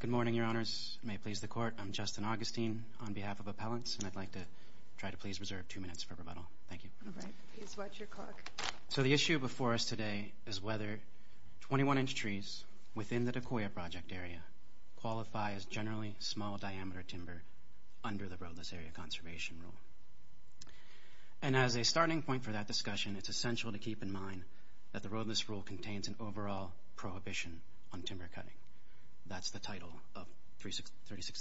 Good morning, Your Honors. May it please the Court, I'm Justin Augustine on behalf of Appellants, and I'd like to try to please reserve two minutes for rebuttal. Thank you. All right. Please watch your clock. So the issue before us today is whether 21-inch trees within the Decoyer Project area qualify as generally small-diameter timber under the Roadless Area Conservation Rule. And as a rule contains an overall prohibition on timber cutting. That's the title of 36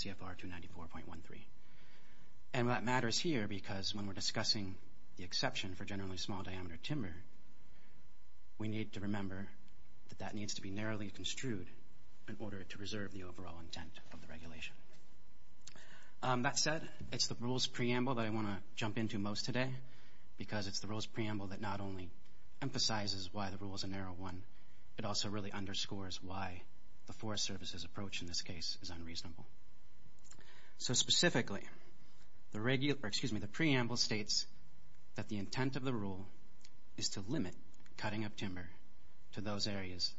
CFR 294.13. And that matters here because when we're discussing the exception for generally small-diameter timber, we need to remember that that needs to be narrowly construed in order to reserve the overall intent of the regulation. That said, it's the rules preamble that I want to jump into most today, because it's the rules preamble that not only emphasizes why the rule is a narrow one, it also really underscores why the Forest Service's approach in this case is unreasonable. So specifically, the preamble states that the intent of the rule is to limit cutting of timber to those areas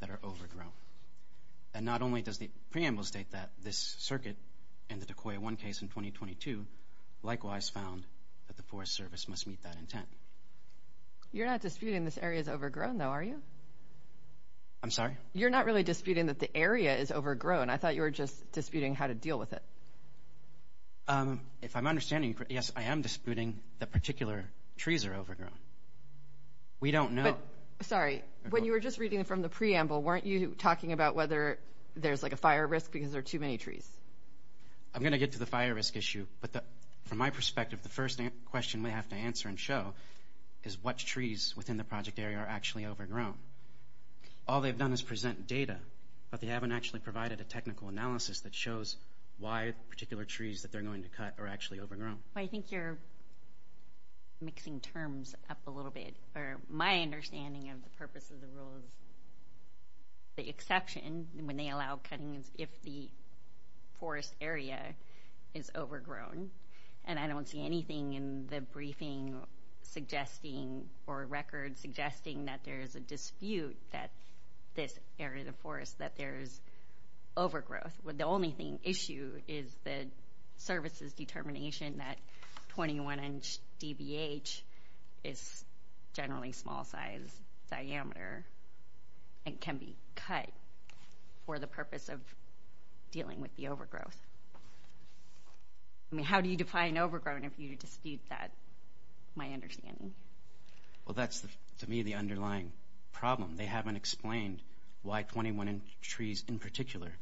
that are overgrown. And not only does the preamble state that this circuit in the Decoyer 1 case in 2022 likewise found that the Forest Service must meet that intent. You're not disputing this area is overgrown though, are you? I'm sorry? You're not really disputing that the area is overgrown. I thought you were just disputing how to deal with it. If I'm understanding correctly, yes, I am disputing that particular trees are overgrown. We don't know. Sorry, when you were just reading from the preamble, weren't you talking about whether there's like a fire risk because there are too many trees? I'm going to get to the fire risk issue, but from my perspective, the first question we have to answer and show is what trees within the project area are actually overgrown? All they've done is present data, but they haven't actually provided a technical analysis that shows why particular trees that they're going to cut are actually overgrown. I think you're mixing terms up a little bit. My understanding of the purpose of the rule is the exception when they allow cutting is if the forest area is overgrown, and I don't see anything in the briefing or record suggesting that there is a dispute that this area of the forest, that there is overgrowth. The only issue is the service's determination that 21 inch DBH is generally small size diameter and can be cut for the purpose of dealing with the overgrowth. I mean, how do you define overgrown if you dispute that, my understanding? Well, that's to me the underlying problem. They haven't explained why 21 inch trees in particular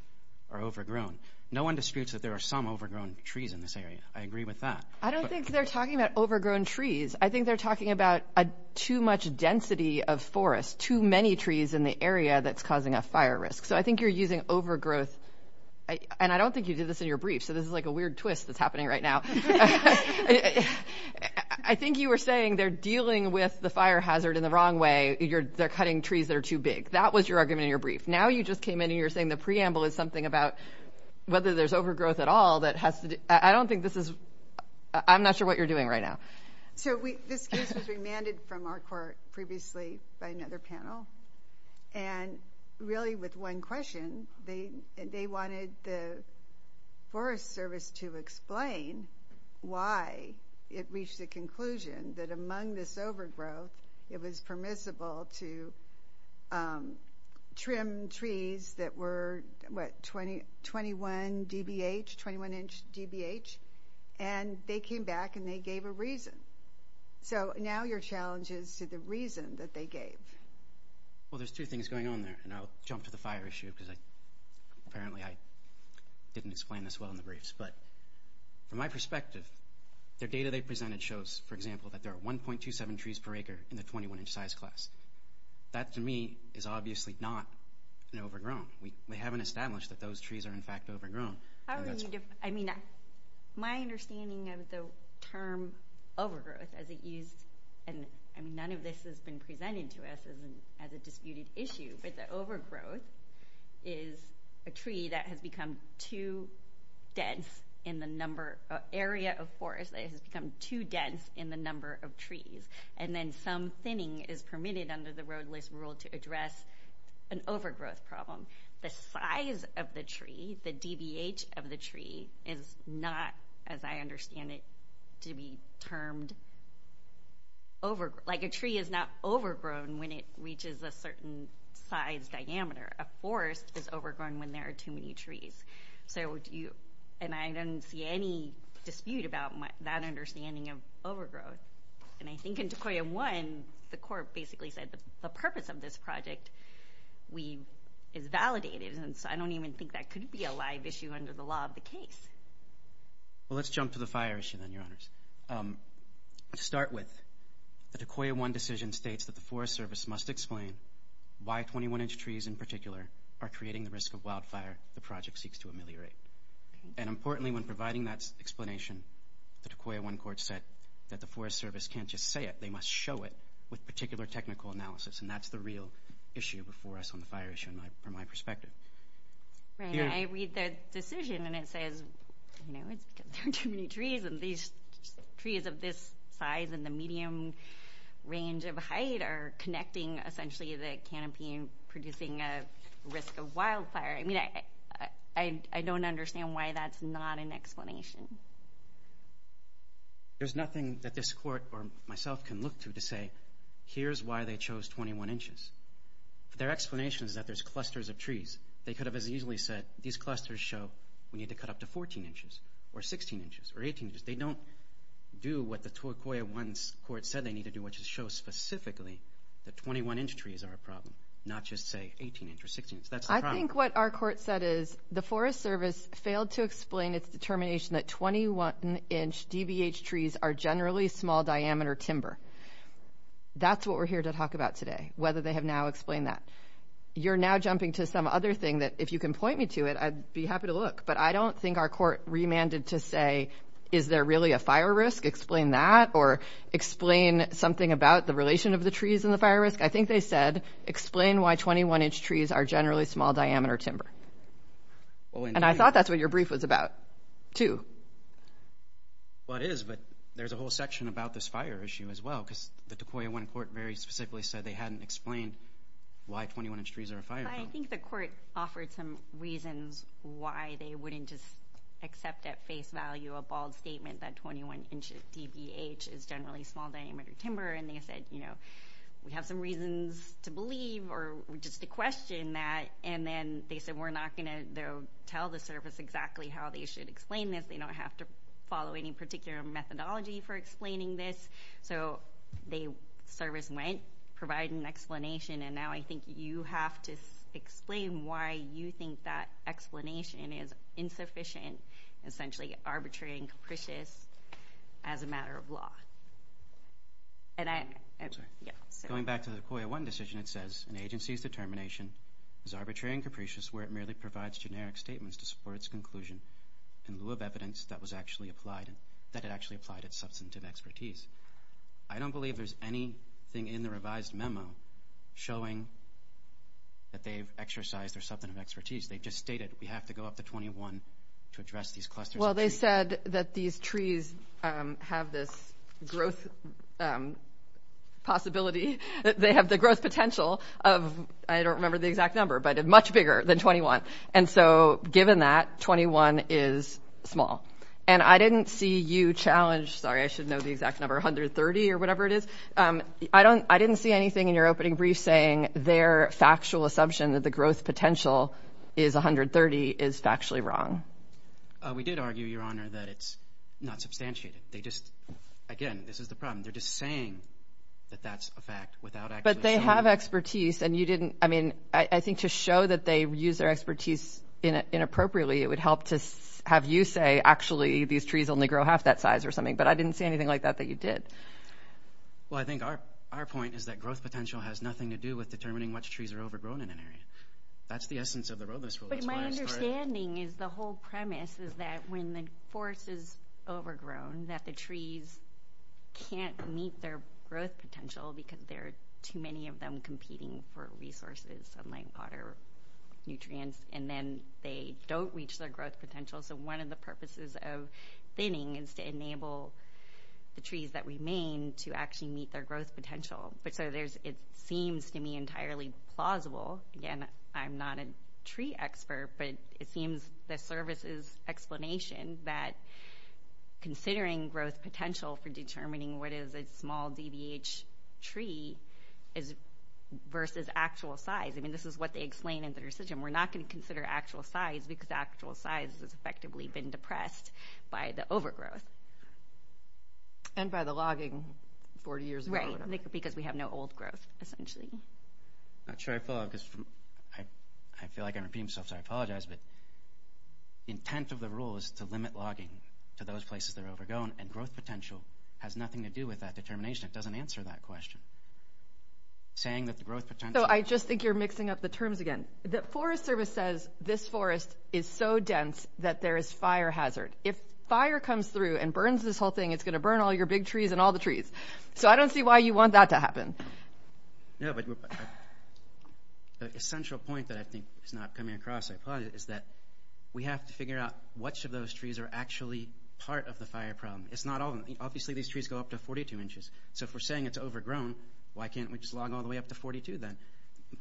are overgrown. No one disputes that there are some overgrown trees in this area. I agree with that. I don't think they're talking about overgrown trees. I think they're talking about too much density of forest, too many trees in the area that's causing a fire risk. So I think you're using overgrowth, and I don't think you did this in your brief, so this is like a weird twist that's happening right now. I think you were saying they're dealing with the fire hazard in the wrong way. They're cutting trees that are too big. That was your argument in your brief. Now you just came in and you're saying the preamble is something about whether there's overgrowth at all. I'm not sure what you're doing right now. So this case was remanded from our court previously by another panel, and really with one question. They wanted the Forest Service to explain why it reached the conclusion that among this overgrowth, it was permissible to trim trees that were, what, 21 dbh, 21 inch dbh? And they came back and they gave a reason. So now your challenge is to the reason that they gave. Well, there's two things going on there, and I'll jump to the fire issue, because apparently I didn't explain this well in the briefs. But from my perspective, the data they presented shows, for example, that there are 1.27 trees per acre in the 21 inch size class. That, to me, is obviously not an overgrown. We haven't established that those trees are in fact overgrown. I mean, my understanding of the term overgrowth as it used, and none of this has been presented to us as a disputed issue, but the overgrowth is a tree that has become too dense in the number, an area of forest that has become too dense in the number of trees. And then some thinning is permitted under the roadless rule to address an overgrowth problem. The size of the tree, the dbh of the tree, is not, as I understand it, to be termed overgrown. Like a tree is not overgrown when it reaches a certain size diameter. A forest is overgrown when there are too many trees. And I don't see any dispute about that understanding of overgrowth. And I think in DeCoya 1, the court basically said the purpose of this project is validated, and so I don't even think that could be a live issue under the law of the case. Well, let's jump to the fire issue then, Your Honors. To start with, the DeCoya 1 decision states that the Forest Service must explain why 21 inch trees in particular are creating the risk of wildfire the project seeks to ameliorate. And importantly, when providing that explanation, the DeCoya 1 court said that the Forest Service can't just say it. They must show it with particular technical analysis, and that's the real issue before us on the fire issue from my perspective. I read the decision, and it says, you know, it's because there are too many trees, and these trees of this size and the medium range of height are connecting, essentially, the canopy and producing a risk of wildfire. I mean, I don't understand why that's not an explanation. There's nothing that this court or myself can look to to say, here's why they chose 21 inches. Their explanation is that there's clusters of trees. They could have as easily said, these clusters show we need to cut up to 14 inches or 16 inches or 18 inches. They don't do what the DeCoya 1 court said they need to do, which is show specifically that 21 inch trees are a problem, not just, say, 18 inch or 16 inch. That's the problem. I think what our court said is the Forest Service failed to explain its determination that 21 inch DBH trees are generally small diameter timber. That's what we're here to talk about today, whether they have now explained that. You're now jumping to some other thing that, if you can point me to it, I'd be happy to look, but I don't think our court remanded to say, is there really a fire risk? Explain that or explain something about the relation of the trees and the fire risk. I think they said, explain why 21 inch trees are generally small diameter timber. And I thought that's what your brief was about too. Well, it is, but there's a whole section about this fire issue as well because the DeCoya 1 court very specifically said they hadn't explained why 21 inch trees are a fire problem. I think the court offered some reasons why they wouldn't just accept at face value a bald statement that 21 inch DBH is generally small diameter timber, and they said, you know, we have some reasons to believe or just to question that. And then they said, we're not going to tell the service exactly how they should explain this. They don't have to follow any particular methodology for explaining this. So the service went, provided an explanation, and now I think you have to explain why you think that explanation is insufficient, essentially arbitrary and capricious as a matter of law. Going back to the DeCoya 1 decision, it says an agency's determination is arbitrary and capricious where it merely provides generic statements to support its conclusion in lieu of evidence that it actually applied its substantive expertise. I don't believe there's anything in the revised memo showing that they've exercised their substantive expertise. They just stated we have to go up to 21 to address these clusters of trees. They said that these trees have this growth possibility. They have the growth potential of, I don't remember the exact number, but much bigger than 21. And so given that, 21 is small. And I didn't see you challenge, sorry, I should know the exact number, 130 or whatever it is. I didn't see anything in your opening brief saying their factual assumption that the growth potential is 130 is factually wrong. We did argue, Your Honor, that it's not substantiated. They just, again, this is the problem. They're just saying that that's a fact without actually showing it. But they have expertise, and you didn't, I mean, I think to show that they use their expertise inappropriately, it would help to have you say, actually, these trees only grow half that size or something. But I didn't see anything like that that you did. Well, I think our point is that growth potential has nothing to do with determining which trees are overgrown in an area. That's the essence of the road list rule. But my understanding is the whole premise is that when the forest is overgrown, that the trees can't meet their growth potential because there are too many of them competing for resources, like water, nutrients, and then they don't reach their growth potential. So one of the purposes of thinning is to enable the trees that remain to actually meet their growth potential. So it seems to me entirely plausible. Again, I'm not a tree expert, but it seems the service's explanation that considering growth potential for determining what is a small DBH tree versus actual size, I mean, this is what they explain in the decision. We're not going to consider actual size because actual size has effectively been depressed by the overgrowth. And by the logging 40 years ago or whatever. Right, because we have no old growth, essentially. I'm not sure I follow because I feel like I'm repeating myself, so I apologize. But the intent of the rule is to limit logging to those places that are overgrown, and growth potential has nothing to do with that determination. It doesn't answer that question. So I just think you're mixing up the terms again. The Forest Service says this forest is so dense that there is fire hazard. If fire comes through and burns this whole thing, it's going to burn all your big trees and all the trees. So I don't see why you want that to happen. No, but the essential point that I think is not coming across, I apologize, is that we have to figure out which of those trees are actually part of the fire problem. Obviously these trees go up to 42 inches. So if we're saying it's overgrown, why can't we just log all the way up to 42 then?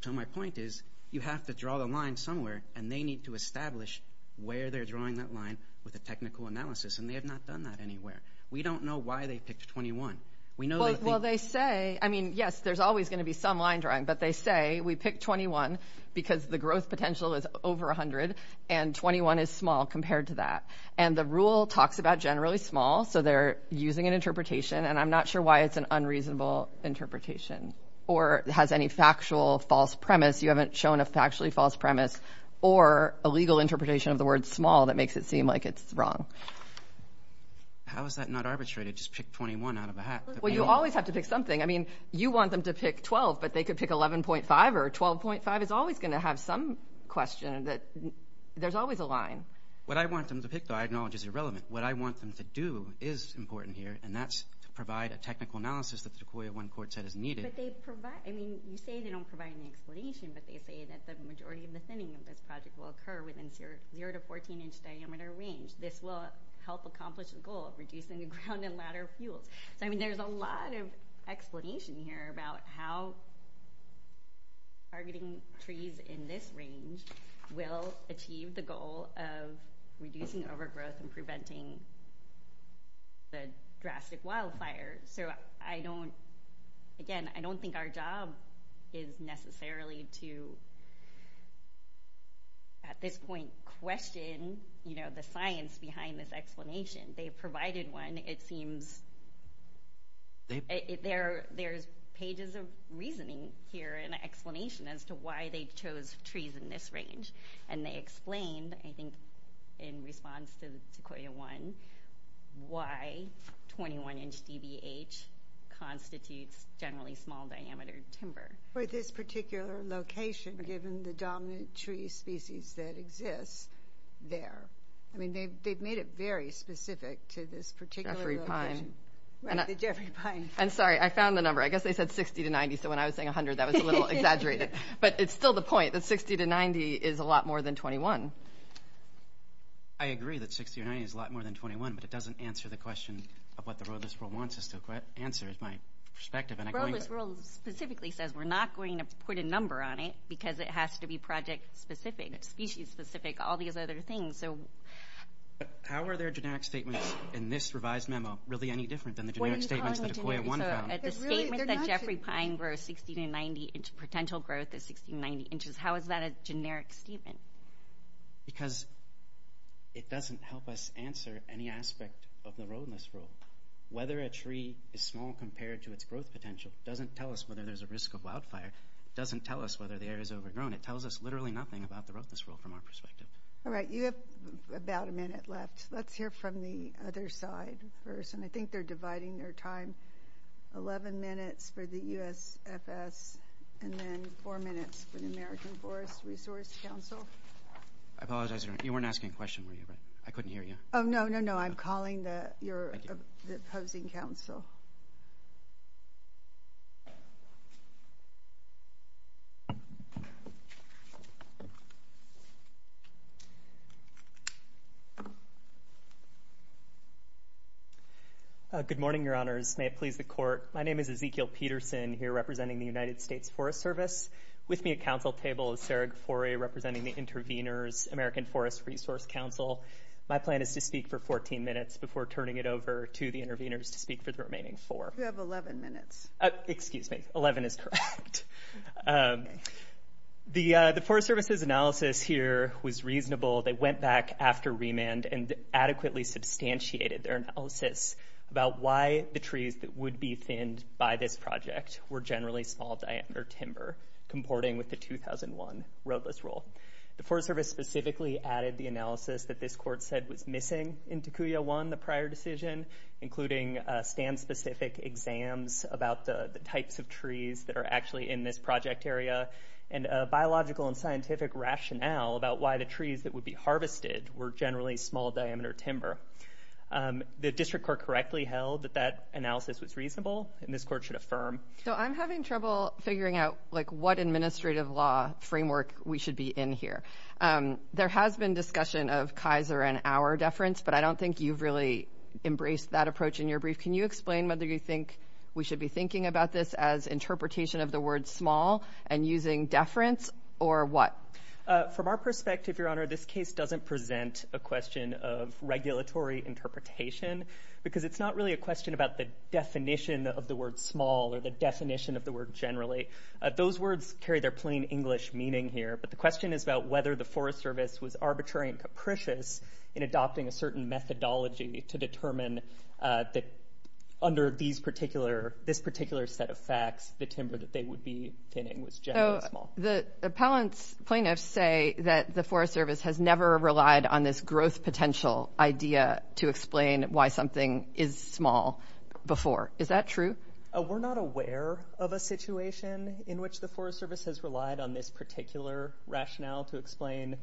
So my point is you have to draw the line somewhere, and they need to establish where they're drawing that line with a technical analysis, and they have not done that anywhere. We don't know why they picked 21. Well, they say, I mean, yes, there's always going to be some line drawing, but they say we picked 21 because the growth potential is over 100, and 21 is small compared to that. And the rule talks about generally small, so they're using an interpretation, and I'm not sure why it's an unreasonable interpretation or has any factual false premise. You haven't shown a factually false premise or a legal interpretation of the word small that makes it seem like it's wrong. How is that not arbitrated, just pick 21 out of a hat? Well, you always have to pick something. I mean, you want them to pick 12, but they could pick 11.5 or 12.5. It's always going to have some question that there's always a line. What I want them to pick, though, I acknowledge is irrelevant. What I want them to do is important here, and that's to provide a technical analysis that the DeCoyah 1 court said is needed. But they provide, I mean, you say they don't provide an explanation, but they say that the majority of the thinning of this project will occur within 0 to 14-inch diameter range. This will help accomplish the goal of reducing the ground and ladder fuels. So, I mean, there's a lot of explanation here about how targeting trees in this range will achieve the goal of reducing overgrowth and preventing the drastic wildfires. So I don't, again, I don't think our job is necessarily to, at this point, question, you know, the science behind this explanation. They provided one. It seems there's pages of reasoning here and explanation as to why they chose trees in this range. And they explained, I think, in response to DeCoyah 1, why 21-inch DBH constitutes generally small-diameter timber. For this particular location, given the dominant tree species that exists there. I mean, they've made it very specific to this particular location. Jeffrey Pine. I'm sorry, I found the number. I guess they said 60 to 90, so when I was saying 100, that was a little exaggerated. But it's still the point that 60 to 90 is a lot more than 21. I agree that 60 or 90 is a lot more than 21, but it doesn't answer the question of what the roadless rule wants us to answer, is my perspective. The roadless rule specifically says we're not going to put a number on it because it has to be project-specific, species-specific, all these other things. How are their generic statements in this revised memo really any different than the generic statements that DeCoyah 1 found? The statement that Jeffrey Pine grows 60 to 90, potential growth is 60 to 90 inches, how is that a generic statement? Because it doesn't help us answer any aspect of the roadless rule. Whether a tree is small compared to its growth potential doesn't tell us whether there's a risk of wildfire. It doesn't tell us whether the area is overgrown. It tells us literally nothing about the roadless rule from our perspective. All right, you have about a minute left. Let's hear from the other side first, and I think they're dividing their time. Eleven minutes for the USFS, and then four minutes for the American Forest Resource Council. I apologize, you weren't asking a question, were you? I couldn't hear you. Oh, no, no, no, I'm calling your opposing council. Good morning, your honors. May it please the court. My name is Ezekiel Peterson, here representing the United States Forest Service. With me at council table is Sarah Gafore, representing the intervenors, American Forest Resource Council. My plan is to speak for 14 minutes before turning it over to the intervenors to speak for the remaining four. You have 11 minutes. Excuse me, 11 is correct. The Forest Service's analysis here was reasonable. They went back after remand and adequately substantiated their analysis about why the trees that would be thinned by this project were generally small diameter timber, comporting with the 2001 roadless rule. The Forest Service specifically added the analysis that this court said was missing in 1001, the prior decision, including stand-specific exams about the types of trees that are actually in this project area and a biological and scientific rationale about why the trees that would be harvested were generally small diameter timber. The district court correctly held that that analysis was reasonable, and this court should affirm. So I'm having trouble figuring out, like, what administrative law framework we should be in here. There has been discussion of Kaiser and our deference, but I don't think you've really embraced that approach in your brief. Can you explain whether you think we should be thinking about this as interpretation of the word small and using deference or what? From our perspective, Your Honor, this case doesn't present a question of regulatory interpretation because it's not really a question about the definition of the word small or the definition of the word generally. Those words carry their plain English meaning here, but the question is about whether the Forest Service was arbitrary and capricious in adopting a certain methodology to determine that under this particular set of facts, the timber that they would be thinning was generally small. So the appellant's plaintiffs say that the Forest Service has never relied on this growth potential idea to explain why something is small before. Is that true? We're not aware of a situation in which the Forest Service has relied on this particular rationale to explain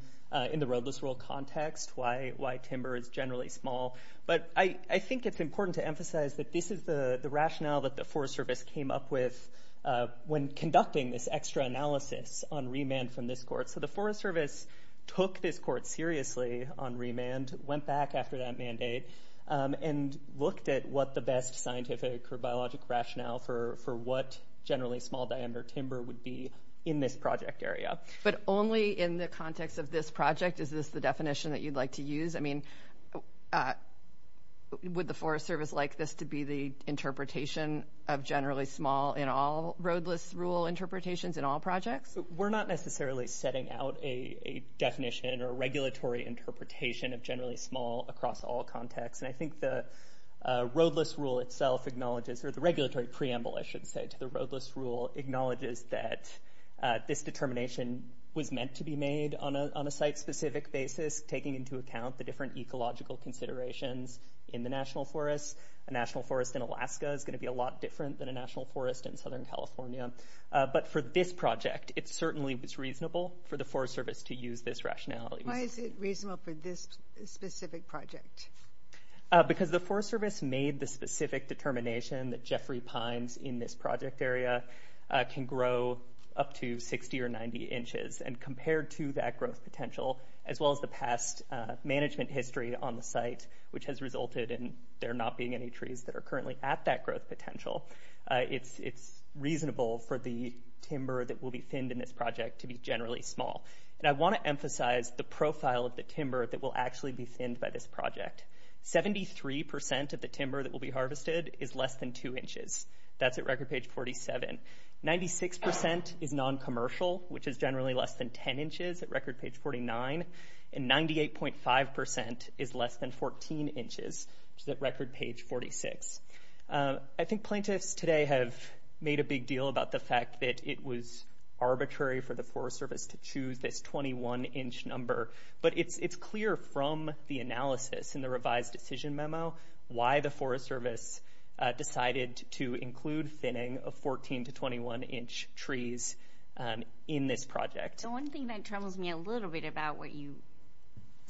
in the roadless rule context why timber is generally small. But I think it's important to emphasize that this is the rationale that the Forest Service came up with when conducting this extra analysis on remand from this court. So the Forest Service took this court seriously on remand, went back after that mandate, and looked at what the best scientific or biologic rationale for what generally small diameter timber would be in this project area. But only in the context of this project? Is this the definition that you'd like to use? I mean, would the Forest Service like this to be the interpretation of generally small in all roadless rule interpretations in all projects? We're not necessarily setting out a definition or regulatory interpretation of generally small across all contexts. And I think the roadless rule itself acknowledges, or the regulatory preamble, I should say, to the roadless rule acknowledges that this determination was meant to be made on a site-specific basis, taking into account the different ecological considerations in the national forests. A national forest in Alaska is going to be a lot different than a national forest in Southern California. But for this project, it certainly was reasonable for the Forest Service to use this rationality. Why is it reasonable for this specific project? Because the Forest Service made the specific determination that Jeffrey pines in this project area can grow up to 60 or 90 inches. And compared to that growth potential, as well as the past management history on the site, which has resulted in there not being any trees that are currently at that growth potential, it's reasonable for the timber that will be thinned in this project to be generally small. And I want to emphasize the profile of the timber that will actually be thinned by this project. Seventy-three percent of the timber that will be harvested is less than 2 inches. That's at record page 47. Ninety-six percent is noncommercial, which is generally less than 10 inches at record page 49. And 98.5 percent is less than 14 inches, which is at record page 46. I think plaintiffs today have made a big deal about the fact that it was arbitrary for the Forest Service to choose this 21-inch number. But it's clear from the analysis in the revised decision memo why the Forest Service decided to include thinning of 14- to 21-inch trees in this project. The one thing that troubles me a little bit about what you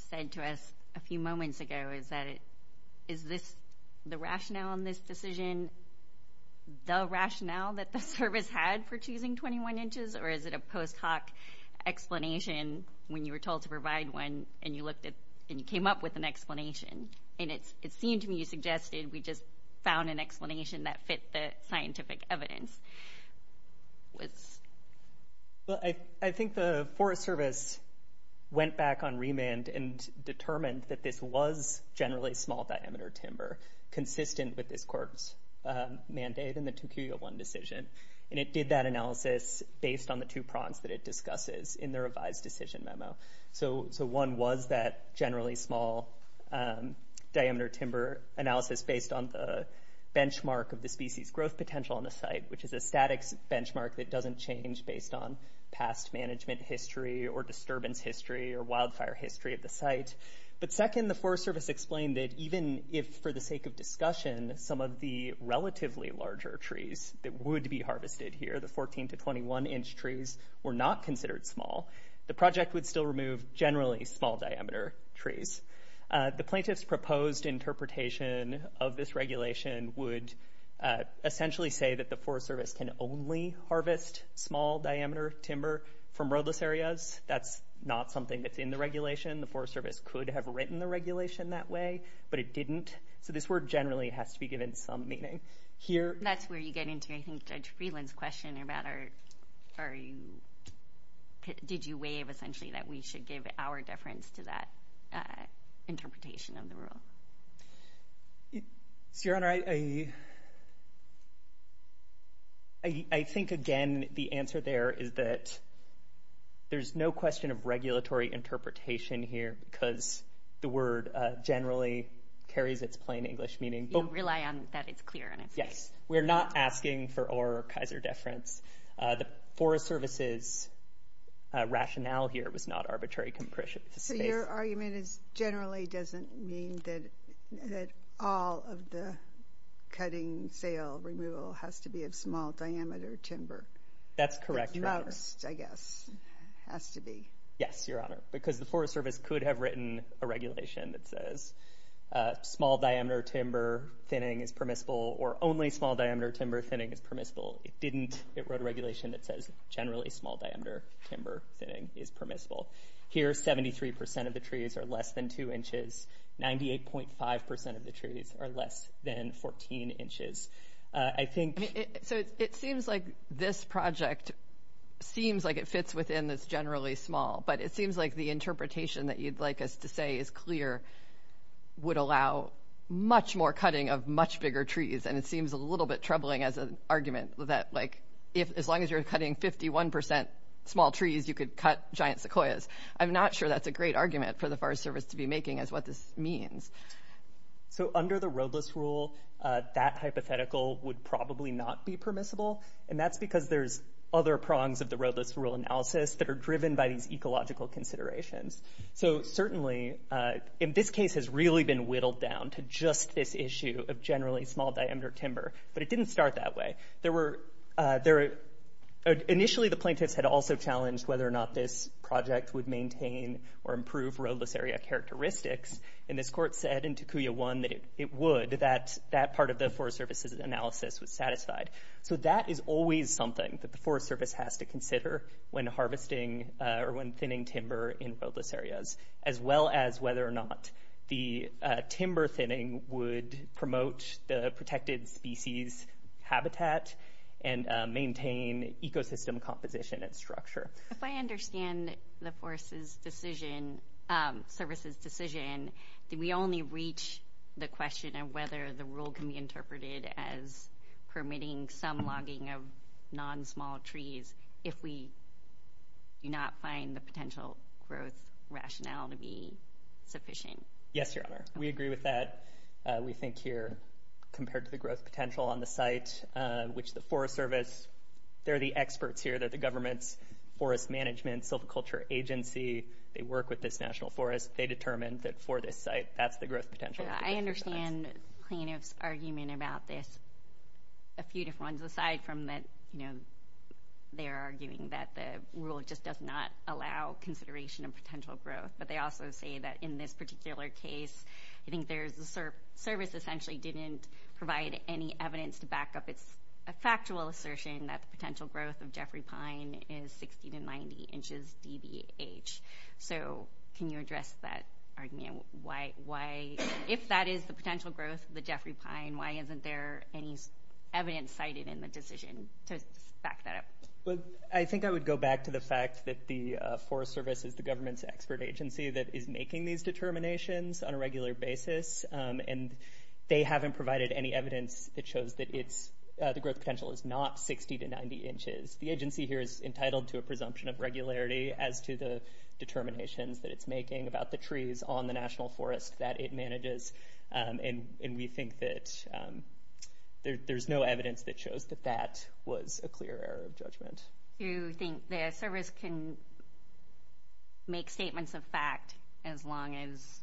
said to us a few moments ago is that is the rationale on this decision the rationale that the Service had for choosing 21 inches, or is it a post hoc explanation when you were told to provide one and you came up with an explanation? And it seemed to me you suggested we just found an explanation that fit the scientific evidence. I think the Forest Service went back on remand and determined that this was generally small-diameter timber consistent with this court's mandate in the 2Q01 decision. And it did that analysis based on the two prongs that it discusses in the revised decision memo. So one was that generally small-diameter timber analysis based on the benchmark of the species growth potential on the site, which is a static benchmark that doesn't change based on past management history or disturbance history or wildfire history of the site. But second, the Forest Service explained that even if, for the sake of discussion, some of the relatively larger trees that would be harvested here, the 14- to 21-inch trees, were not considered small, the project would still remove generally small-diameter trees. The plaintiff's proposed interpretation of this regulation would essentially say that the Forest Service can only harvest small-diameter timber from roadless areas. That's not something that's in the regulation. The Forest Service could have written the regulation that way, but it didn't. So this word generally has to be given some meaning. That's where you get into, I think, Judge Friedland's question about did you waive, essentially, that we should give our deference to that interpretation of the rule. Your Honor, I think, again, the answer there is that there's no question of regulatory interpretation here because the word generally carries its plain English meaning. You rely on that it's clear. Yes, we're not asking for our Kaiser deference. The Forest Service's rationale here was not arbitrary compression. So your argument is generally doesn't mean that all of the cutting, sale, removal has to be of small-diameter timber. That's correct, Your Honor. At most, I guess, it has to be. Yes, Your Honor, because the Forest Service could have written a regulation that says small-diameter timber thinning is permissible or only small-diameter timber thinning is permissible. It didn't. It wrote a regulation that says generally small-diameter timber thinning is permissible. Here, 73% of the trees are less than 2 inches. 98.5% of the trees are less than 14 inches. So it seems like this project seems like it fits within this generally small, but it seems like the interpretation that you'd like us to say is clear would allow much more cutting of much bigger trees, and it seems a little bit troubling as an argument that, like, as long as you're cutting 51% small trees, you could cut giant sequoias. I'm not sure that's a great argument for the Forest Service to be making as what this means. So under the roadless rule, that hypothetical would probably not be permissible, and that's because there's other prongs of the roadless rule analysis that are driven by these ecological considerations. So certainly in this case has really been whittled down to just this issue of generally small-diameter timber, but it didn't start that way. Initially, the plaintiffs had also challenged whether or not this project would maintain or improve roadless area characteristics, and this court said in Takuya 1 that it would, that that part of the Forest Service's analysis was satisfied. So that is always something that the Forest Service has to consider when harvesting or when thinning timber in roadless areas, as well as whether or not the timber thinning would promote the protected species habitat and maintain ecosystem composition and structure. If I understand the Forest Service's decision, did we only reach the question of whether the rule can be interpreted as permitting some logging of non-small trees if we do not find the potential growth rationale to be sufficient? Yes, Your Honor. We agree with that. We think here, compared to the growth potential on the site, which the Forest Service, they're the experts here, they're the government's forest management silviculture agency, they work with this national forest. They determined that for this site, that's the growth potential. I understand plaintiffs' argument about this, a few different ones, aside from that, you know, they're arguing that the rule just does not allow consideration of potential growth, but they also say that in this particular case, I think the service essentially didn't provide any evidence to back up its factual assertion that the potential growth of Jeffrey Pine is 60 to 90 inches DBH. So can you address that argument? If that is the potential growth of the Jeffrey Pine, why isn't there any evidence cited in the decision to back that up? Well, I think I would go back to the fact that the Forest Service is the government's expert agency that is making these determinations on a regular basis, and they haven't provided any evidence that shows that the growth potential is not 60 to 90 inches. The agency here is entitled to a presumption of regularity as to the determinations that it's making about the trees on the national forest that it manages, and we think that there's no evidence that shows that that was a clear error of judgment. So you think the service can make statements of fact as long as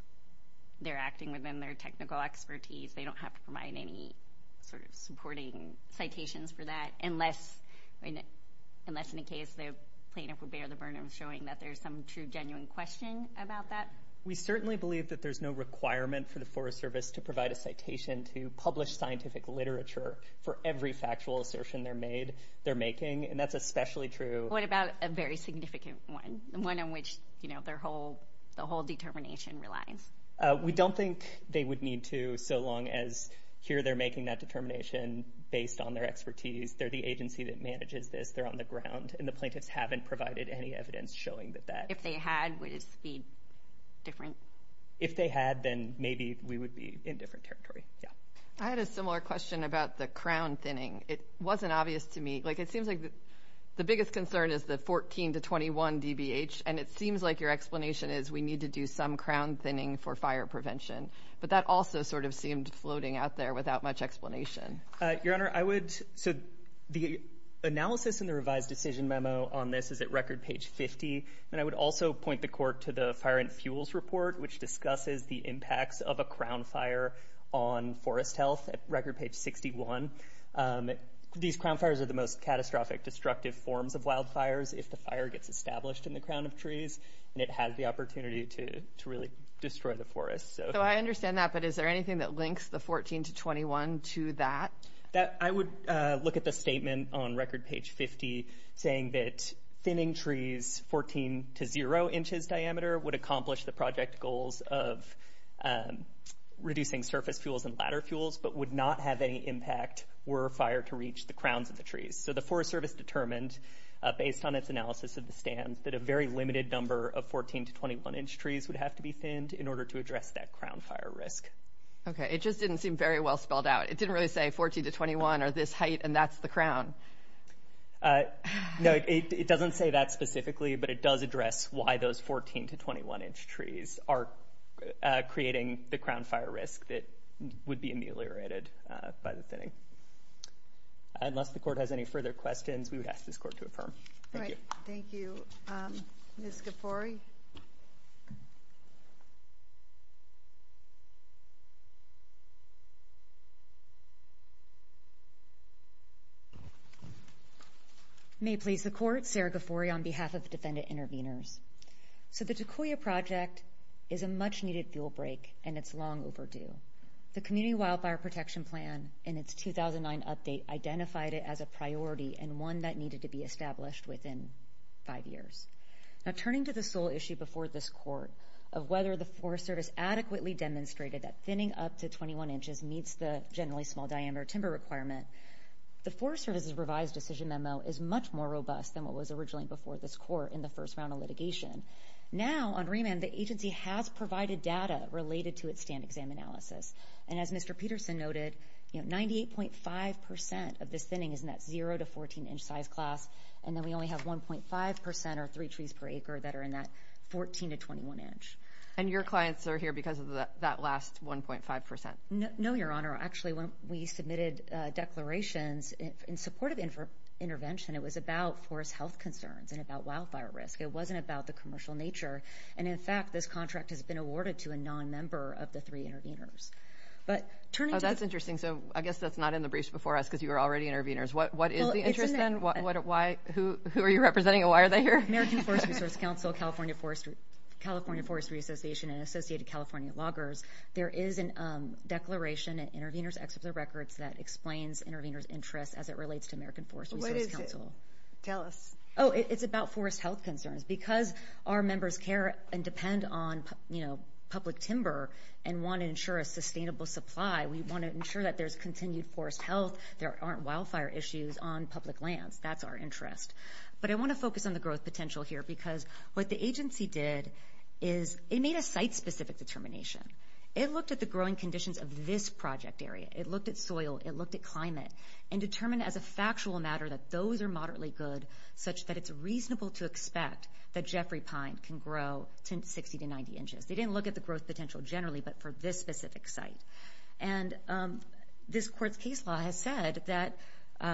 they're acting within their technical expertise, they don't have to provide any sort of supporting citations for that, unless in the case the plaintiff would bear the burden of showing that there's some true genuine question about that? We certainly believe that there's no requirement for the Forest Service to provide a citation to publish scientific literature for every factual assertion they're making, and that's especially true. What about a very significant one, the one in which the whole determination relies? We don't think they would need to so long as here they're making that determination based on their expertise, they're the agency that manages this, they're on the ground, and the plaintiffs haven't provided any evidence showing that that. If they had, would it be different? If they had, then maybe we would be in different territory. I had a similar question about the crown thinning. It wasn't obvious to me. It seems like the biggest concern is the 14 to 21 DBH, and it seems like your explanation is we need to do some crown thinning for fire prevention, but that also sort of seemed floating out there without much explanation. Your Honor, I would say the analysis in the revised decision memo on this is at record page 50, and I would also point the court to the fire and fuels report, which discusses the impacts of a crown fire on forest health at record page 61. These crown fires are the most catastrophic destructive forms of wildfires if the fire gets established in the crown of trees, and it has the opportunity to really destroy the forest. So I understand that, but is there anything that links the 14 to 21 to that? I would look at the statement on record page 50 saying that thinning trees 14 to 0 inches diameter would accomplish the project goals of reducing surface fuels and ladder fuels but would not have any impact were a fire to reach the crowns of the trees. So the Forest Service determined, based on its analysis of the stands, that a very limited number of 14 to 21 inch trees would have to be thinned in order to address that crown fire risk. Okay, it just didn't seem very well spelled out. It didn't really say 14 to 21 are this height and that's the crown. No, it doesn't say that specifically, but it does address why those 14 to 21 inch trees are creating the crown fire risk that would be ameliorated by the thinning. Unless the court has any further questions, we would ask this court to affirm. Thank you. All right, thank you. Ms. Ghaffori? Ms. Ghaffori? May it please the court, Sarah Ghaffori on behalf of Defendant Intervenors. So the Takoya Project is a much-needed fuel break, and it's long overdue. The Community Wildfire Protection Plan in its 2009 update identified it as a priority and one that needed to be established within five years. Now, turning to the sole issue before this court of whether the Forest Service adequately demonstrated that thinning up to 21 inches meets the generally small diameter timber requirement, the Forest Service's revised decision memo is much more robust than what was originally before this court in the first round of litigation. Now, on remand, the agency has provided data related to its stand exam analysis, and as Mr. Peterson noted, 98.5% of this thinning is in that 0 to 14 inch size class, and then we only have 1.5% or three trees per acre that are in that 14 to 21 inch. And your clients are here because of that last 1.5%? No, Your Honor. Actually, when we submitted declarations in support of intervention, it was about forest health concerns and about wildfire risk. It wasn't about the commercial nature, and in fact this contract has been awarded to a nonmember of the three intervenors. Oh, that's interesting. So I guess that's not in the briefs before us because you were already intervenors. What is the interest then? Who are you representing, and why are they here? American Forest Resource Council, California Forestry Association, and Associated California Loggers. There is a declaration in intervenors' executive records that explains intervenors' interests as it relates to American Forest Resource Council. What is it? Tell us. Oh, it's about forest health concerns. Because our members care and depend on public timber and want to ensure a sustainable supply, we want to ensure that there's continued forest health, there aren't wildfire issues on public lands. That's our interest. But I want to focus on the growth potential here because what the agency did is it made a site-specific determination. It looked at the growing conditions of this project area. It looked at soil. It looked at climate and determined as a factual matter that those are moderately good, such that it's reasonable to expect that Jeffrey Pine can grow 60 to 90 inches. They didn't look at the growth potential generally, but for this specific site. And this court's case law has said that...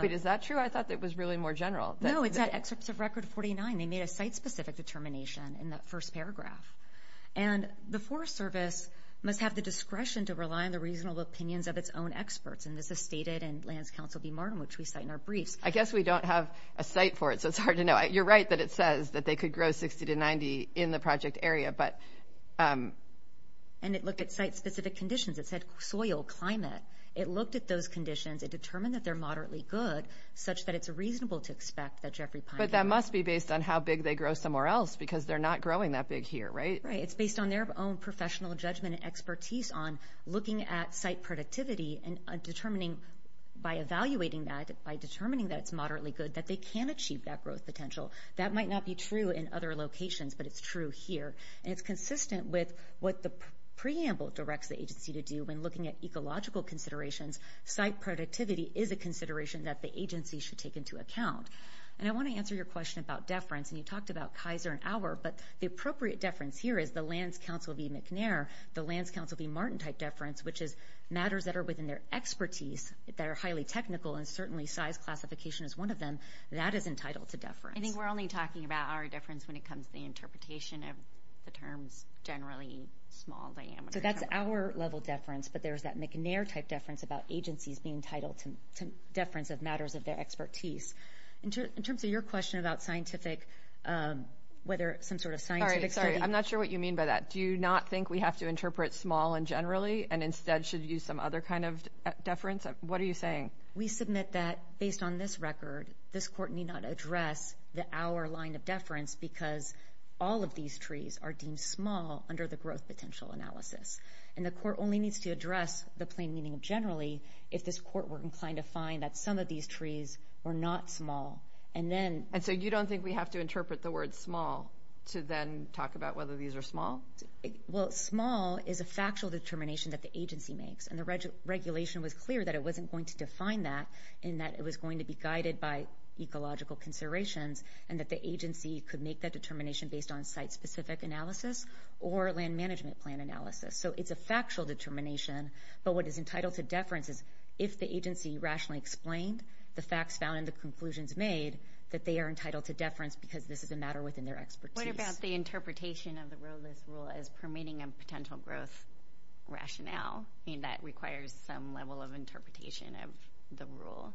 Wait, is that true? I thought that was really more general. No, it's at Excerpts of Record 49. They made a site-specific determination in that first paragraph. And the Forest Service must have the discretion to rely on the reasonable opinions of its own experts, and this is stated in Lands Council v. Martin, which we cite in our briefs. I guess we don't have a site for it, so it's hard to know. You're right that it says that they could grow 60 to 90 in the project area, but... And it looked at site-specific conditions. It said soil, climate. It looked at those conditions. It determined that they're moderately good, such that it's reasonable to expect that Jeffrey Pine... But that must be based on how big they grow somewhere else because they're not growing that big here, right? Right. It's based on their own professional judgment and expertise on looking at site productivity and determining by evaluating that, by determining that it's moderately good, that they can achieve that growth potential. That might not be true in other locations, but it's true here. And it's consistent with what the preamble directs the agency to do when looking at ecological considerations. Site productivity is a consideration that the agency should take into account. And I want to answer your question about deference, and you talked about Kaiser and Auer, but the appropriate deference here is the Lands Council v. McNair, the Lands Council v. Martin-type deference, which is matters that are within their expertise, that are highly technical, and certainly size classification is one of them. That is entitled to deference. I think we're only talking about Auer deference when it comes to the interpretation of the terms generally small diameter. So that's Auer-level deference, but there's that McNair-type deference about agencies being entitled to deference of matters of their expertise. In terms of your question about scientific, whether some sort of scientific study... Sorry, sorry, I'm not sure what you mean by that. Do you not think we have to interpret small and generally and instead should use some other kind of deference? What are you saying? We submit that, based on this record, this court need not address the Auer line of deference because all of these trees are deemed small under the growth potential analysis. And the court only needs to address the plain meaning of generally if this court were inclined to find that some of these trees were not small. And then... And so you don't think we have to interpret the word small to then talk about whether these are small? Well, small is a factual determination that the agency makes, and the regulation was clear that it wasn't going to define that in that it was going to be guided by ecological considerations and that the agency could make that determination based on site-specific analysis or land management plan analysis. So it's a factual determination, but what is entitled to deference is if the agency rationally explained the facts found and the conclusions made, that they are entitled to deference because this is a matter within their expertise. What about the interpretation of the rowless rule as permitting a potential growth rationale? I mean, that requires some level of interpretation of the rule.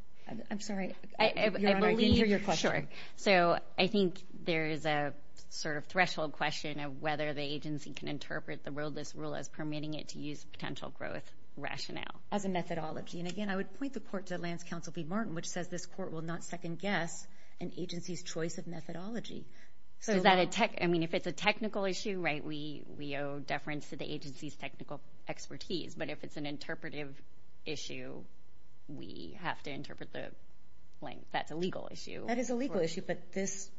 I'm sorry, Your Honor, I didn't hear your question. Sure. So I think there is a sort of threshold question of whether the agency can interpret the rowless rule as permitting it to use potential growth rationale. As a methodology. And again, I would point the court to Lance Counsel V. Martin, which says this court will not second-guess an agency's choice of methodology. So is that a tech... I mean, if it's a technical issue, right, we owe deference to the agency's technical expertise. But if it's an interpretive issue, we have to interpret the blank. That's a legal issue. That is a legal issue, but this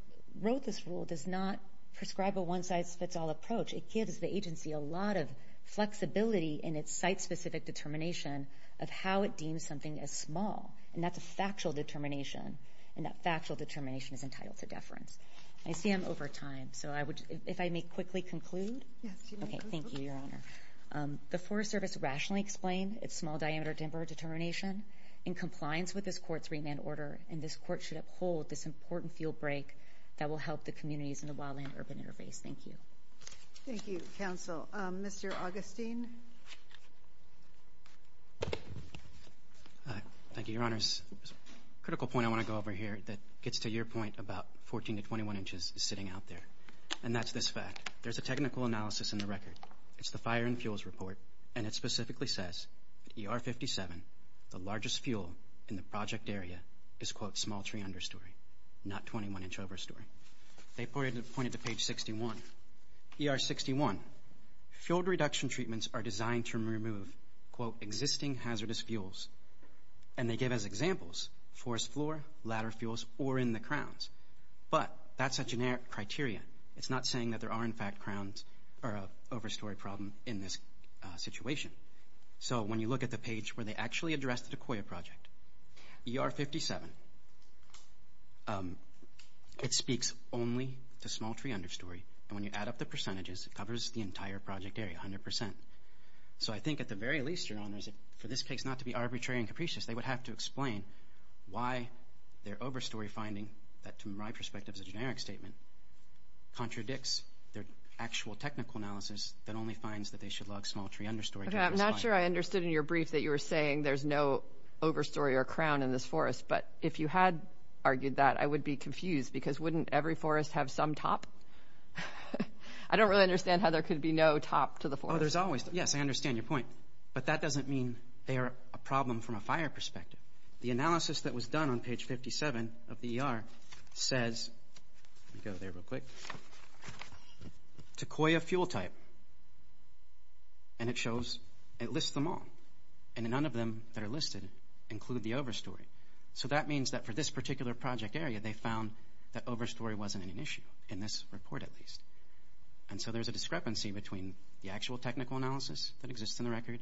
rowless rule does not prescribe a one-size-fits-all approach. It gives the agency a lot of flexibility in its site-specific determination of how it deems something as small. And that's a factual determination, and that factual determination is entitled to deference. I see I'm over time, so if I may quickly conclude. Yes, you may conclude. Okay, thank you, Your Honor. The Forest Service rationally explained its small-diameter timber determination in compliance with this court's remand order, and this court should uphold this important fuel break that will help the communities in the wildland urban interface. Thank you. Thank you, counsel. Mr. Augustine. Thank you, Your Honors. A critical point I want to go over here that gets to your point about 14 to 21 inches sitting out there, and that's this fact. There's a technical analysis in the record. It's the Fire and Fuels Report, and it specifically says that ER-57, the largest fuel in the project area, is, quote, small tree understory, not 21-inch overstory. They point it to page 61. ER-61, fuel reduction treatments are designed to remove, quote, existing hazardous fuels, and they give us examples, forest floor, ladder fuels, or in the crowns. But that's a generic criteria. It's not saying that there are, in fact, crowns or an overstory problem in this situation. So when you look at the page where they actually address the DeCoya project, ER-57, it speaks only to small tree understory, and when you add up the percentages, it covers the entire project area, 100%. So I think, at the very least, Your Honors, for this case not to be arbitrary and capricious, they would have to explain why their overstory finding, that to my perspective is a generic statement, contradicts their actual technical analysis that only finds that they should log small tree understory. Okay. I'm not sure I understood in your brief that you were saying there's no overstory or crown in this forest, but if you had argued that, I would be confused because wouldn't every forest have some top? I don't really understand how there could be no top to the forest. Oh, there's always top. Yes, I understand your point, but that doesn't mean they are a problem from a fire perspective. The analysis that was done on page 57 of the ER says, let me go there real quick, to Koya fuel type, and it lists them all, and none of them that are listed include the overstory. So that means that for this particular project area, they found that overstory wasn't an issue, in this report at least. And so there's a discrepancy between the actual technical analysis that exists in the record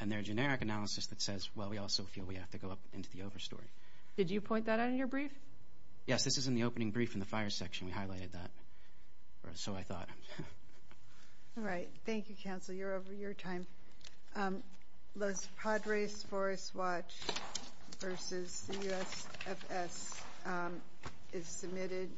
and their generic analysis that says, well, we also feel we have to go up into the overstory. Did you point that out in your brief? Yes, this is in the opening brief in the fire section. We highlighted that, or so I thought. All right. Thank you, counsel. You're over your time. Los Padres Forest Watch versus the USFS is submitted.